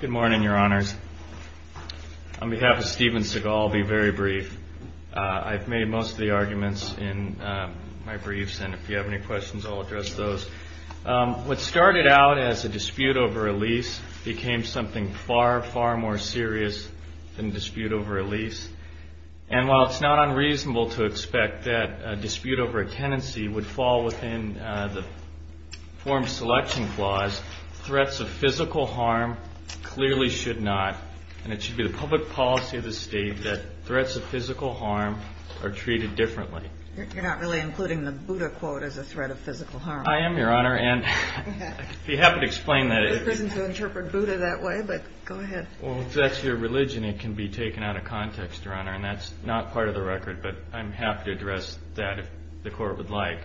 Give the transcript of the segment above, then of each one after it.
Good morning, your honors. On behalf of Steven Seagal, I'll be very brief. I've made most of the arguments in my briefs, and if you have any questions, I'll address those. What started out as a dispute over a lease became something far, far more serious than a dispute over a lease. And while it's not unreasonable to expect that a dispute over a tenancy would fall within the form selection clause, threats of physical harm clearly should not, and it should be the public policy of the state that threats of physical harm are treated differently. You're not really including the Buddha quote as a threat of physical harm. I am, your honor, and if you happen to explain that. I wouldn't be present to interpret Buddha that way, but go ahead. Well, if that's your religion, it can be taken out of context, your honor, and that's not part of the record, but I'm happy to address that if the court would like.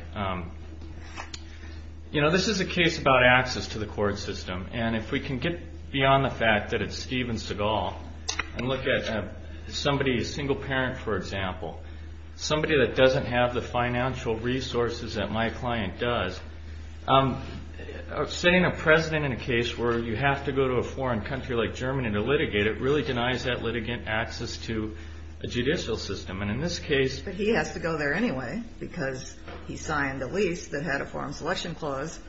You know, this is a case about access to the court system, and if we can get beyond the fact that it's Steven Seagal and look at somebody, a single parent, for example, somebody that doesn't have the financial resources that my client does. Setting a president in a case where you have to go to a foreign country like Germany to litigate, it really denies that litigant access to a judicial system, and in this case. But he has to go there anyway because he signed a lease that had a form selection clause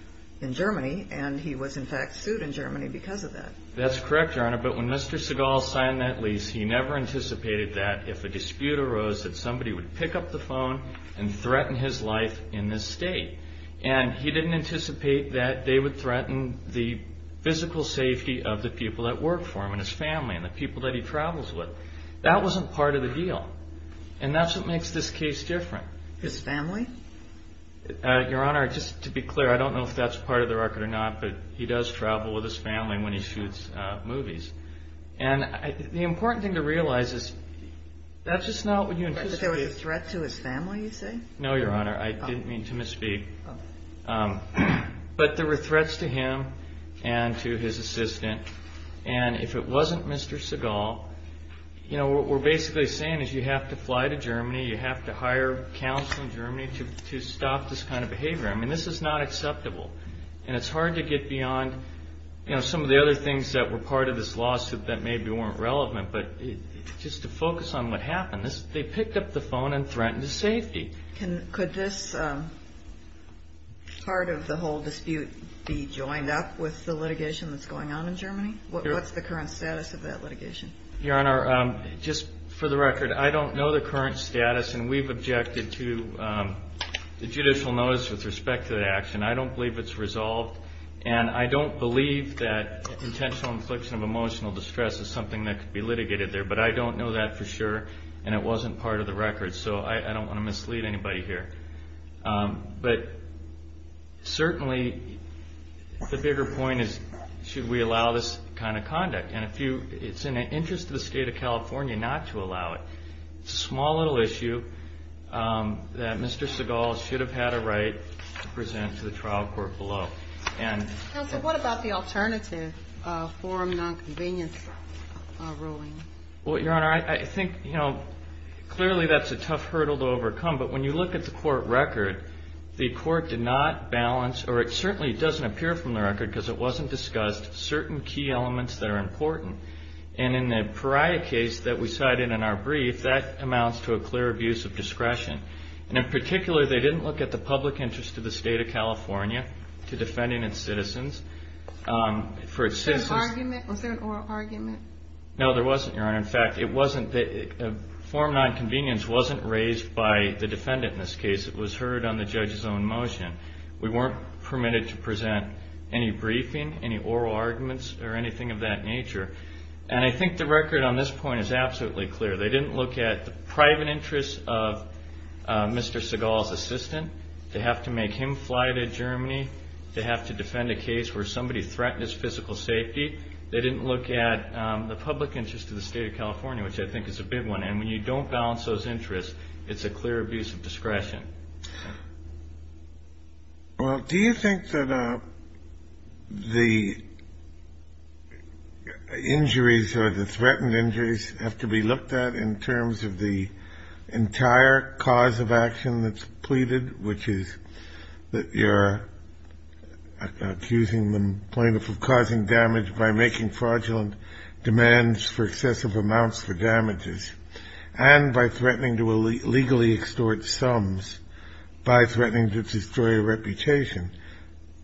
in Germany, and he was in fact sued in Germany because of that. That's correct, your honor, but when Mr. Seagal signed that lease, he never anticipated that if a dispute arose that somebody would pick up the phone and threaten his life in this state. And he didn't anticipate that they would threaten the physical safety of the people that work for him and his family and the people that he travels with. That wasn't part of the deal, and that's what makes this case different. His family? Your honor, just to be clear, I don't know if that's part of the record or not, but he does travel with his family when he shoots movies. And the important thing to realize is that's just not what you anticipate. That there was a threat to his family, you say? No, your honor, I didn't mean to misspeak. But there were threats to him and to his assistant, and if it wasn't Mr. Seagal, you know, what we're basically saying is you have to fly to Germany, you have to hire counsel in Germany to stop this kind of behavior. I mean, this is not acceptable, and it's hard to get beyond, you know, some of the other things that were part of this lawsuit that maybe weren't relevant. But just to focus on what happened, they picked up the phone and threatened his safety. Could this part of the whole dispute be joined up with the litigation that's going on in Germany? What's the current status of that litigation? Your honor, just for the record, I don't know the current status, and we've objected to the judicial notice with respect to the action. I don't believe it's resolved, and I don't believe that intentional infliction of emotional distress is something that could be litigated there. But I don't know that for sure, and it wasn't part of the record. So I don't want to mislead anybody here. But certainly, the bigger point is should we allow this kind of conduct? And it's in the interest of the state of California not to allow it. It's a small little issue that Mr. Segal should have had a right to present to the trial court below. Counsel, what about the alternative forum nonconvenience ruling? Well, your honor, I think, you know, clearly that's a tough hurdle to overcome. But when you look at the court record, the court did not balance, or it certainly doesn't appear from the record because it wasn't discussed, certain key elements that are important. And in the Pariah case that we cited in our brief, that amounts to a clear abuse of discretion. And in particular, they didn't look at the public interest of the state of California to defending its citizens. Was there an oral argument? No, there wasn't, your honor. In fact, the forum nonconvenience wasn't raised by the defendant in this case. It was heard on the judge's own motion. We weren't permitted to present any briefing, any oral arguments, or anything of that nature. And I think the record on this point is absolutely clear. They didn't look at the private interest of Mr. Segal's assistant, to have to make him fly to Germany, to have to defend a case where somebody threatened his physical safety. They didn't look at the public interest of the state of California, which I think is a big one. And when you don't balance those interests, it's a clear abuse of discretion. Well, do you think that the injuries or the threatened injuries have to be looked at in terms of the entire cause of action that's pleaded, which is that you're accusing the plaintiff of causing damage by making fraudulent demands for excessive amounts for damages, and by threatening to illegally extort sums, by threatening to destroy a reputation,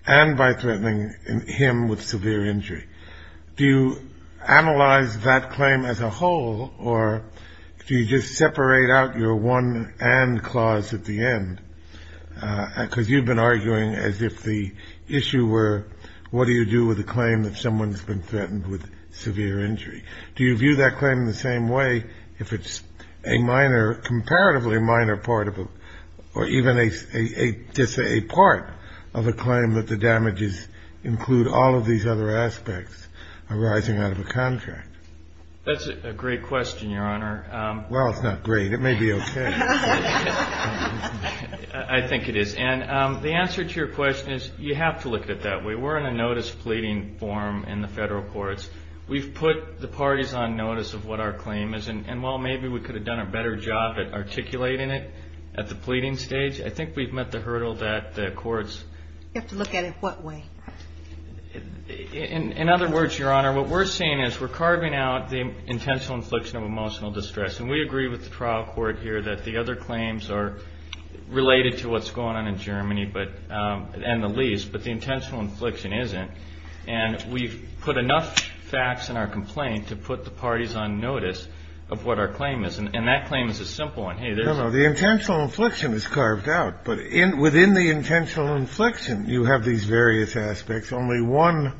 and by threatening him with severe injury? Do you analyze that claim as a whole, or do you just separate out your one and clause at the end? Because you've been arguing as if the issue were, what do you do with a claim that someone's been threatened with severe injury? Do you view that claim in the same way if it's a minor, comparatively minor part of it, or even just a part of a claim that the damages include all of these other aspects arising out of a contract? That's a great question, Your Honor. Well, it's not great. It may be okay. I think it is. And the answer to your question is you have to look at it that way. We're in a notice pleading form in the Federal courts. We've put the parties on notice of what our claim is, and while maybe we could have done a better job at articulating it at the pleading stage, I think we've met the hurdle that the courts... You have to look at it what way? In other words, Your Honor, what we're seeing is we're carving out the intentional infliction of emotional distress, and we agree with the trial court here that the other claims are related to what's going on in Germany and the lease, but the intentional infliction isn't. And we've put enough facts in our complaint to put the parties on notice of what our claim is. And that claim is a simple one. Hey, there's... No, no. The intentional infliction is carved out. But within the intentional infliction, you have these various aspects, only one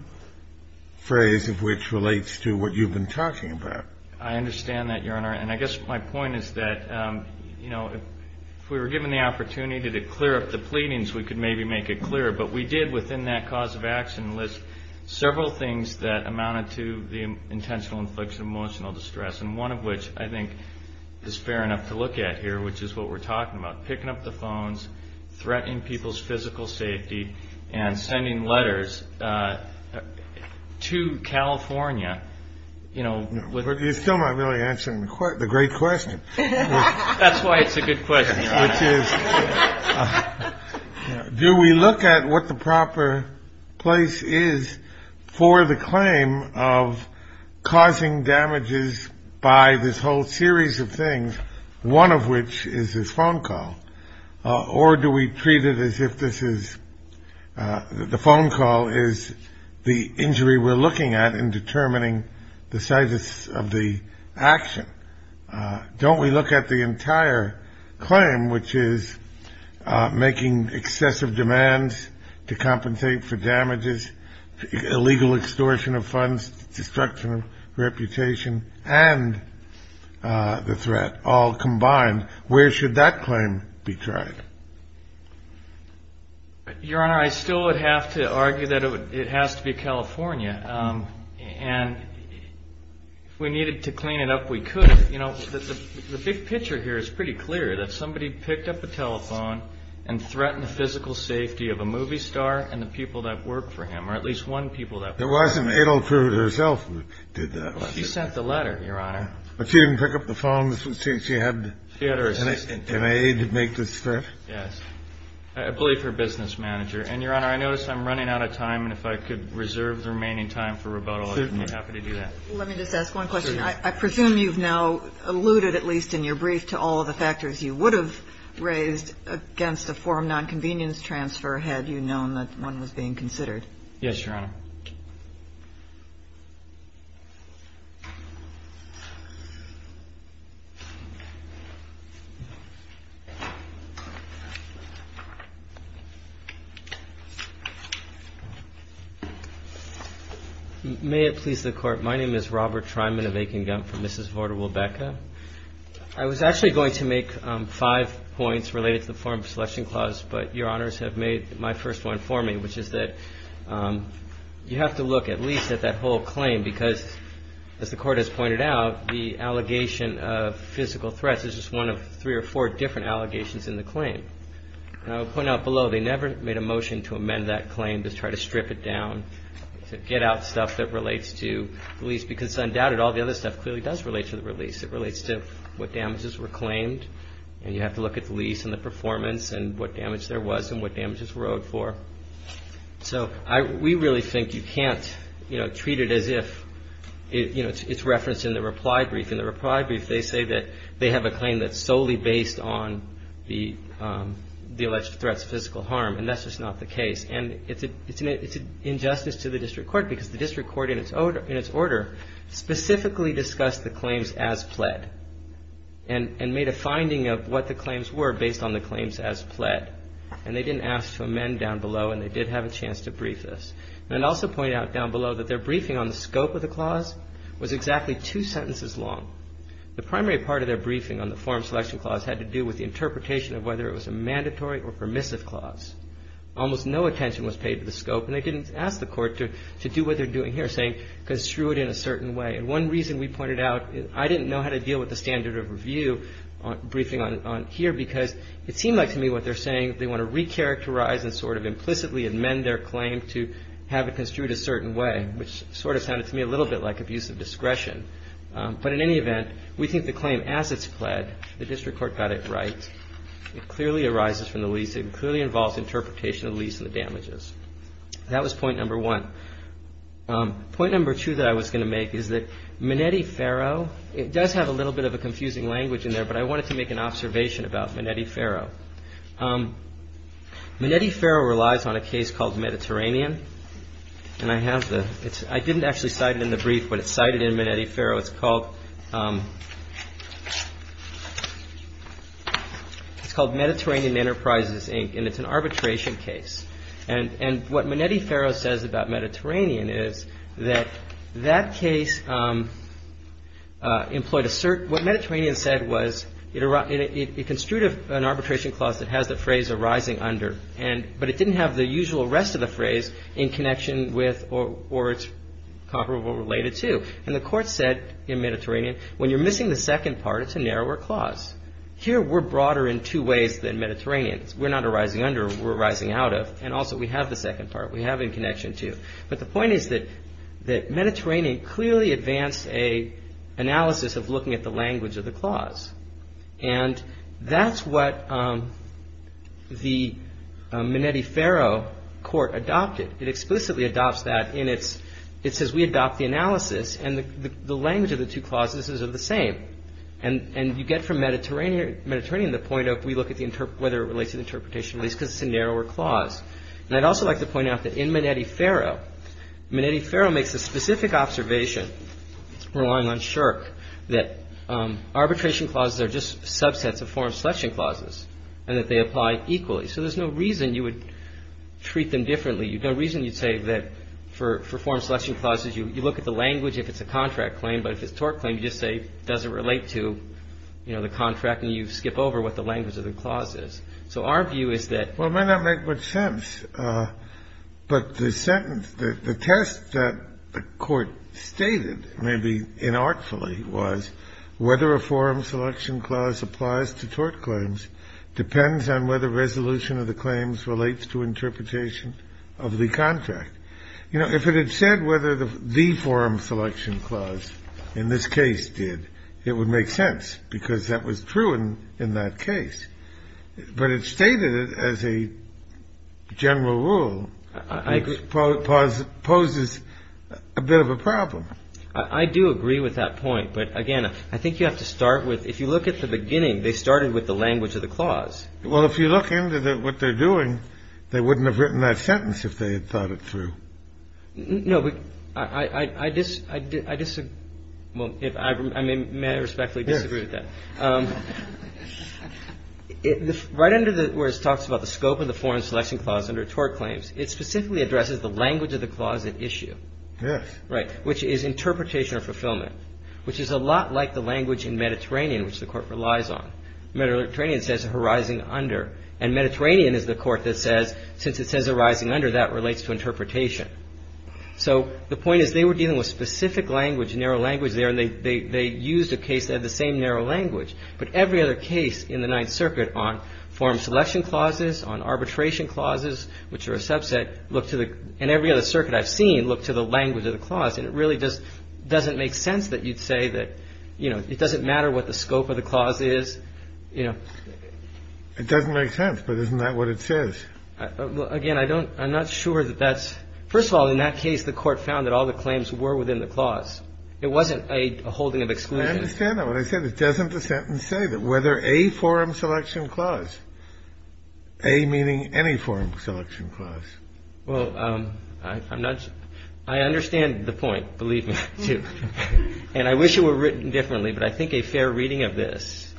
phrase of which relates to what you've been talking about. I understand that, Your Honor. And I guess my point is that, you know, if we were given the opportunity to clear up the pleadings, we could maybe make it clearer. But we did within that cause of action list several things that amounted to the intentional infliction of emotional distress, and one of which I think is fair enough to look at here, which is what we're talking about, picking up the phones, threatening people's physical safety, and sending letters to California, you know... But you're still not really answering the great question. Which is, do we look at what the proper place is for the claim of causing damages by this whole series of things, one of which is this phone call, or do we treat it as if this is... The phone call is the injury we're looking at in determining the status of the action. Don't we look at the entire claim, which is making excessive demands to compensate for damages, illegal extortion of funds, destruction of reputation, and the threat all combined? Where should that claim be tried? Your Honor, I still would have to argue that it has to be California. And if we needed to clean it up, we could. You know, the big picture here is pretty clear, that somebody picked up a telephone and threatened the physical safety of a movie star and the people that work for him, or at least one people that work for him. It wasn't Adel Prude herself who did that. She sent the letter, Your Honor. But she didn't pick up the phone? She had an aide make the script? Yes. I believe her business manager. And, Your Honor, I notice I'm running out of time. And if I could reserve the remaining time for rebuttal, I'd be happy to do that. Let me just ask one question. I presume you've now alluded, at least in your brief, to all of the factors you would have raised against a forum nonconvenience transfer had you known that one was being considered. Yes, Your Honor. May it please the Court. My name is Robert Treiman of Akin Gump for Mrs. Vorder Willebecke. I was actually going to make five points related to the forum selection clause, but Your Honors have made my first one for me, which is that you have to look at least at that whole claim because, as the Court has pointed out, the allegation of physical threats is just one of three or four different allegations in the claim. And I'll point out below they never made a motion to amend that claim, just try to strip it down, to get out stuff that relates to the lease, because undoubtedly all the other stuff clearly does relate to the lease. It relates to what damages were claimed, and you have to look at the lease and the performance and what damage there was and what damages were owed for. So we really think you can't treat it as if it's referenced in the reply brief. In the reply brief they say that they have a claim that's solely based on the alleged threats of physical harm, and that's just not the case. And it's an injustice to the district court because the district court in its order specifically discussed the claims as pled, and made a finding of what the claims were based on the claims as pled. And they didn't ask to amend down below, and they did have a chance to brief us. And I'd also point out down below that their briefing on the scope of the clause was exactly two sentences long. The primary part of their briefing on the form selection clause had to do with the interpretation of whether it was a mandatory or permissive clause. Almost no attention was paid to the scope, and they didn't ask the Court to do what they're doing here, saying construe it in a certain way. And one reason we pointed out, I didn't know how to deal with the standard of review briefing on here because it seemed like to me what they're saying, they want to recharacterize and sort of implicitly amend their claim to have it construed a certain way, which sort of sounded to me a little bit like abusive discretion. But in any event, we think the claim as it's pled, the district court got it right. It clearly arises from the lease. It clearly involves interpretation of the lease and the damages. That was point number one. Point number two that I was going to make is that Minetti-Ferro, it does have a little bit of a confusing language in there, but I wanted to make an observation about Minetti-Ferro. Minetti-Ferro relies on a case called Mediterranean, and I didn't actually cite it in the brief, but it's cited in Minetti-Ferro. It's called Mediterranean Enterprises, Inc., and it's an arbitration case. And what Minetti-Ferro says about Mediterranean is that that case employed a certain What Mediterranean said was it construed an arbitration clause that has the phrase arising under, but it didn't have the usual rest of the phrase in connection with or it's comparable related to. And the court said in Mediterranean, when you're missing the second part, it's a narrower clause. Here we're broader in two ways than Mediterranean. We're not arising under. We're arising out of. And also we have the second part. We have in connection to. But the point is that Mediterranean clearly advanced an analysis of looking at the language of the clause. And that's what the Minetti-Ferro court adopted. It explicitly adopts that in its, it says we adopt the analysis, and the language of the two clauses are the same. And you get from Mediterranean the point of whether it relates to the interpretation at least because it's a narrower clause. And I'd also like to point out that in Minetti-Ferro, Minetti-Ferro makes a specific observation relying on Shirk that arbitration clauses are just subsets of foreign selection clauses and that they apply equally. So there's no reason you would treat them differently. There's no reason you'd say that for foreign selection clauses, you look at the language if it's a contract claim, but if it's a tort claim, you just say it doesn't relate to the contract, and you skip over what the language of the clause is. So our view is that Kennedy. Well, it might not make much sense. But the sentence, the test that the court stated may be inartfully was whether a foreign selection clause applies to tort claims depends on whether resolution of the claims relates to interpretation of the contract. You know, if it said whether the foreign selection clause in this case did, it would make sense because that was true in that case. But it stated it as a general rule. I agree. Poses a bit of a problem. I do agree with that point. But, again, I think you have to start with if you look at the beginning, they started with the language of the clause. Well, if you look into what they're doing, they wouldn't have written that sentence if they had thought it through. No, but I disagree. Well, may I respectfully disagree with that? Yes. Right under where it talks about the scope of the foreign selection clause under tort claims, it specifically addresses the language of the clause at issue. Yes. Right. Which is interpretation of fulfillment, which is a lot like the language in Mediterranean which the Court relies on. Mediterranean says arising under. And Mediterranean is the Court that says since it says arising under, that relates to interpretation. So the point is they were dealing with specific language, narrow language there, and they used a case that had the same narrow language. But every other case in the Ninth Circuit on foreign selection clauses, on arbitration clauses, which are a subset, look to the – and every other circuit I've seen look to the language of the clause. And it really just doesn't make sense that you'd say that, you know, it doesn't matter what the scope of the clause is, you know. It doesn't make sense, but isn't that what it says? Well, again, I don't – I'm not sure that that's – first of all, in that case the Court found that all the claims were within the clause. It wasn't a holding of exclusion. I understand that. When I said it, doesn't the sentence say that whether a foreign selection clause – a meaning any foreign selection clause. Well, I'm not – I understand the point, believe me, too. And I wish it were written differently, but I think a fair reading of this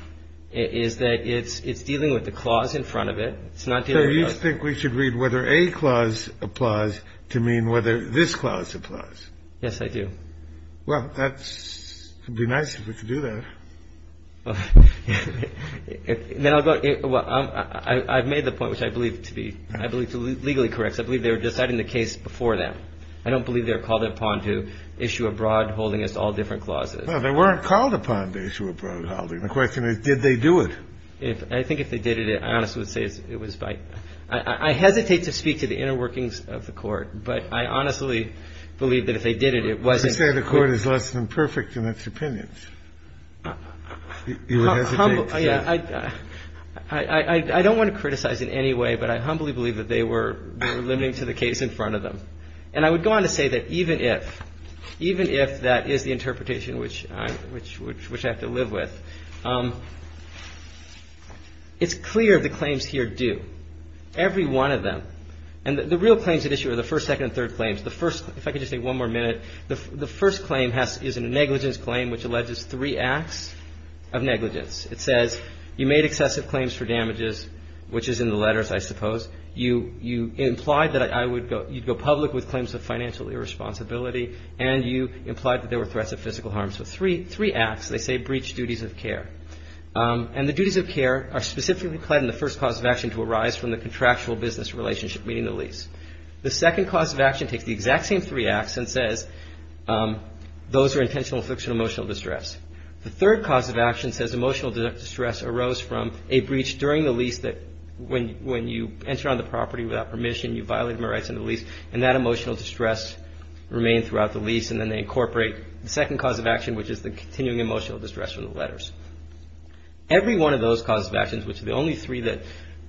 is that it's dealing with the clause in front of it. It's not dealing with the clause. So you think we should read whether a clause applies to mean whether this clause applies? Yes, I do. Well, that's – it would be nice if we could do that. Well, then I'll go – well, I've made the point, which I believe to be – I believe to be legally correct, because I believe they were deciding the case before that. I don't believe they were called upon to issue a broad holding as to all different clauses. Well, they weren't called upon to issue a broad holding. The question is, did they do it? If – I think if they did it, I honestly would say it was by – I hesitate to speak to the inner workings of the Court, but I honestly believe that if they did it, it wasn't – You say the Court is less than perfect in its opinions. You would hesitate to say? I don't want to criticize in any way, but I humbly believe that they were – they were limiting to the case in front of them. And I would go on to say that even if – even if that is the interpretation which I – which I have to live with, it's clear the claims here do. Every one of them. And the real claims at issue are the first, second, and third claims. The first – if I could just say one more minute, the first claim has – is a negligence claim which alleges three acts of negligence. It says you made excessive claims for damages, which is in the letters, I suppose. You implied that I would go – you'd go public with claims of financial irresponsibility, and you implied that there were threats of physical harm. So three – three acts. They say breach duties of care. And the duties of care are specifically implied in the first cause of action to arise from the contractual business relationship, meaning the lease. The second cause of action takes the exact same three acts and says those are intentional affliction of emotional distress. The third cause of action says emotional distress arose from a breach during the lease that when – when you enter on the property without permission, you violated my rights on the lease, and then they incorporate the second cause of action, which is the continuing emotional distress from the letters. Every one of those causes of actions, which are the only three that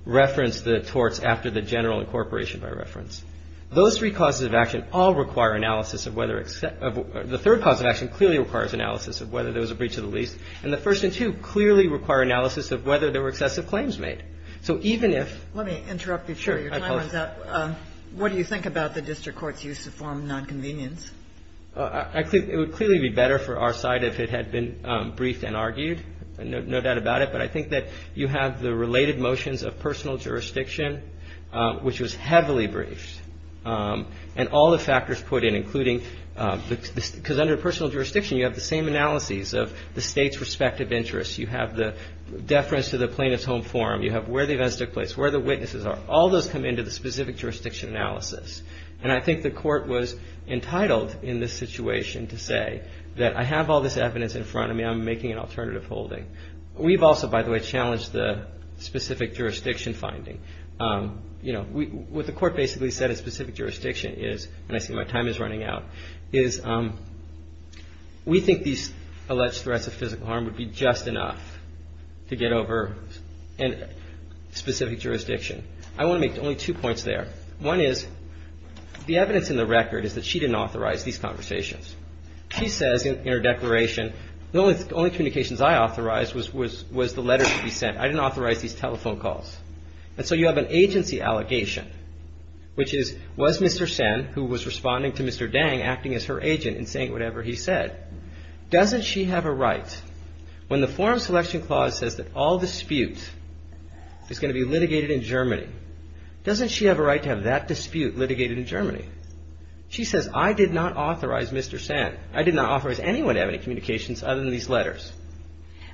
reference the torts after the general incorporation by reference, those three causes of action all require analysis of whether – the third cause of action clearly requires analysis of whether there was a breach of the lease, and the first and two clearly require analysis of whether there were excessive claims made. So even if – What do you think about the district court's use of form of nonconvenience? I think it would clearly be better for our side if it had been briefed and argued. No doubt about it. But I think that you have the related motions of personal jurisdiction, which was heavily briefed, and all the factors put in, including – because under personal jurisdiction, you have the same analyses of the state's respective interests. You have the deference to the plaintiff's home forum. You have where the events took place, where the witnesses are. All those come into the specific jurisdiction analysis. And I think the court was entitled in this situation to say that I have all this evidence in front of me. I'm making an alternative holding. We've also, by the way, challenged the specific jurisdiction finding. You know, what the court basically said in specific jurisdiction is – and I see my time is running out – is we think these alleged threats of physical harm would be just enough to get over a specific jurisdiction. I want to make only two points there. One is the evidence in the record is that she didn't authorize these conversations. She says in her declaration, the only communications I authorized was the letters to be sent. I didn't authorize these telephone calls. And so you have an agency allegation, which is, was Mr. Sen, who was responding to Mr. Dang, acting as her agent and saying whatever he said. Doesn't she have a right – when the forum selection clause says that all dispute is going to be litigated in Germany, doesn't she have a right to have that dispute litigated in Germany? She says, I did not authorize Mr. Sen. I did not authorize anyone to have any communications other than these letters.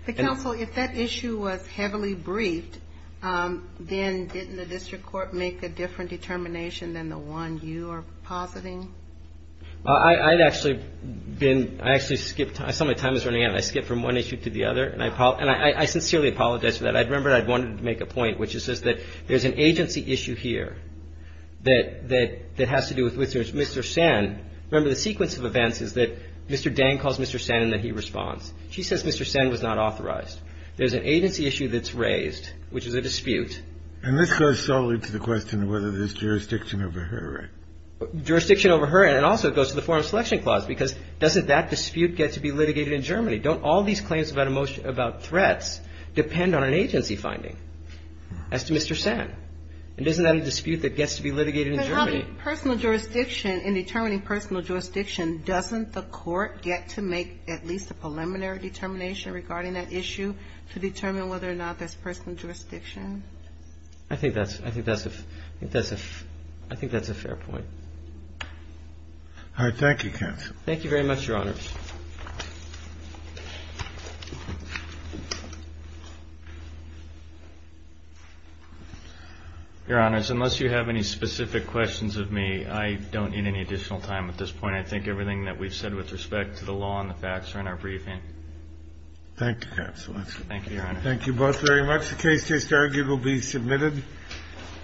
But, counsel, if that issue was heavily briefed, then didn't the district court make a different determination than the one you are positing? Well, I'd actually been – I actually skipped – I saw my time was running out, and I skipped from one issue to the other, and I sincerely apologize for that. I remember I'd wanted to make a point, which is just that there's an agency issue here that has to do with Mr. Sen. Remember, the sequence of events is that Mr. Dang calls Mr. Sen and that he responds. She says Mr. Sen was not authorized. There's an agency issue that's raised, which is a dispute. And this goes solely to the question of whether there's jurisdiction over her, right? Jurisdiction over her, and it also goes to the forum selection clause, because doesn't that dispute get to be litigated in Germany? Don't all these claims about threats depend on an agency finding as to Mr. Sen? And isn't that a dispute that gets to be litigated in Germany? In personal jurisdiction, in determining personal jurisdiction, doesn't the court get to make at least a preliminary determination regarding that issue to determine whether or not there's personal jurisdiction? I think that's – I think that's a – I think that's a fair point. All right. Thank you, counsel. Thank you very much, Your Honors. Your Honors, unless you have any specific questions of me, I don't need any additional time at this point. I think everything that we've said with respect to the law and the facts are in our briefing. Thank you, counsel. Thank you, Your Honor. Thank you both very much. The case just argued will be submitted.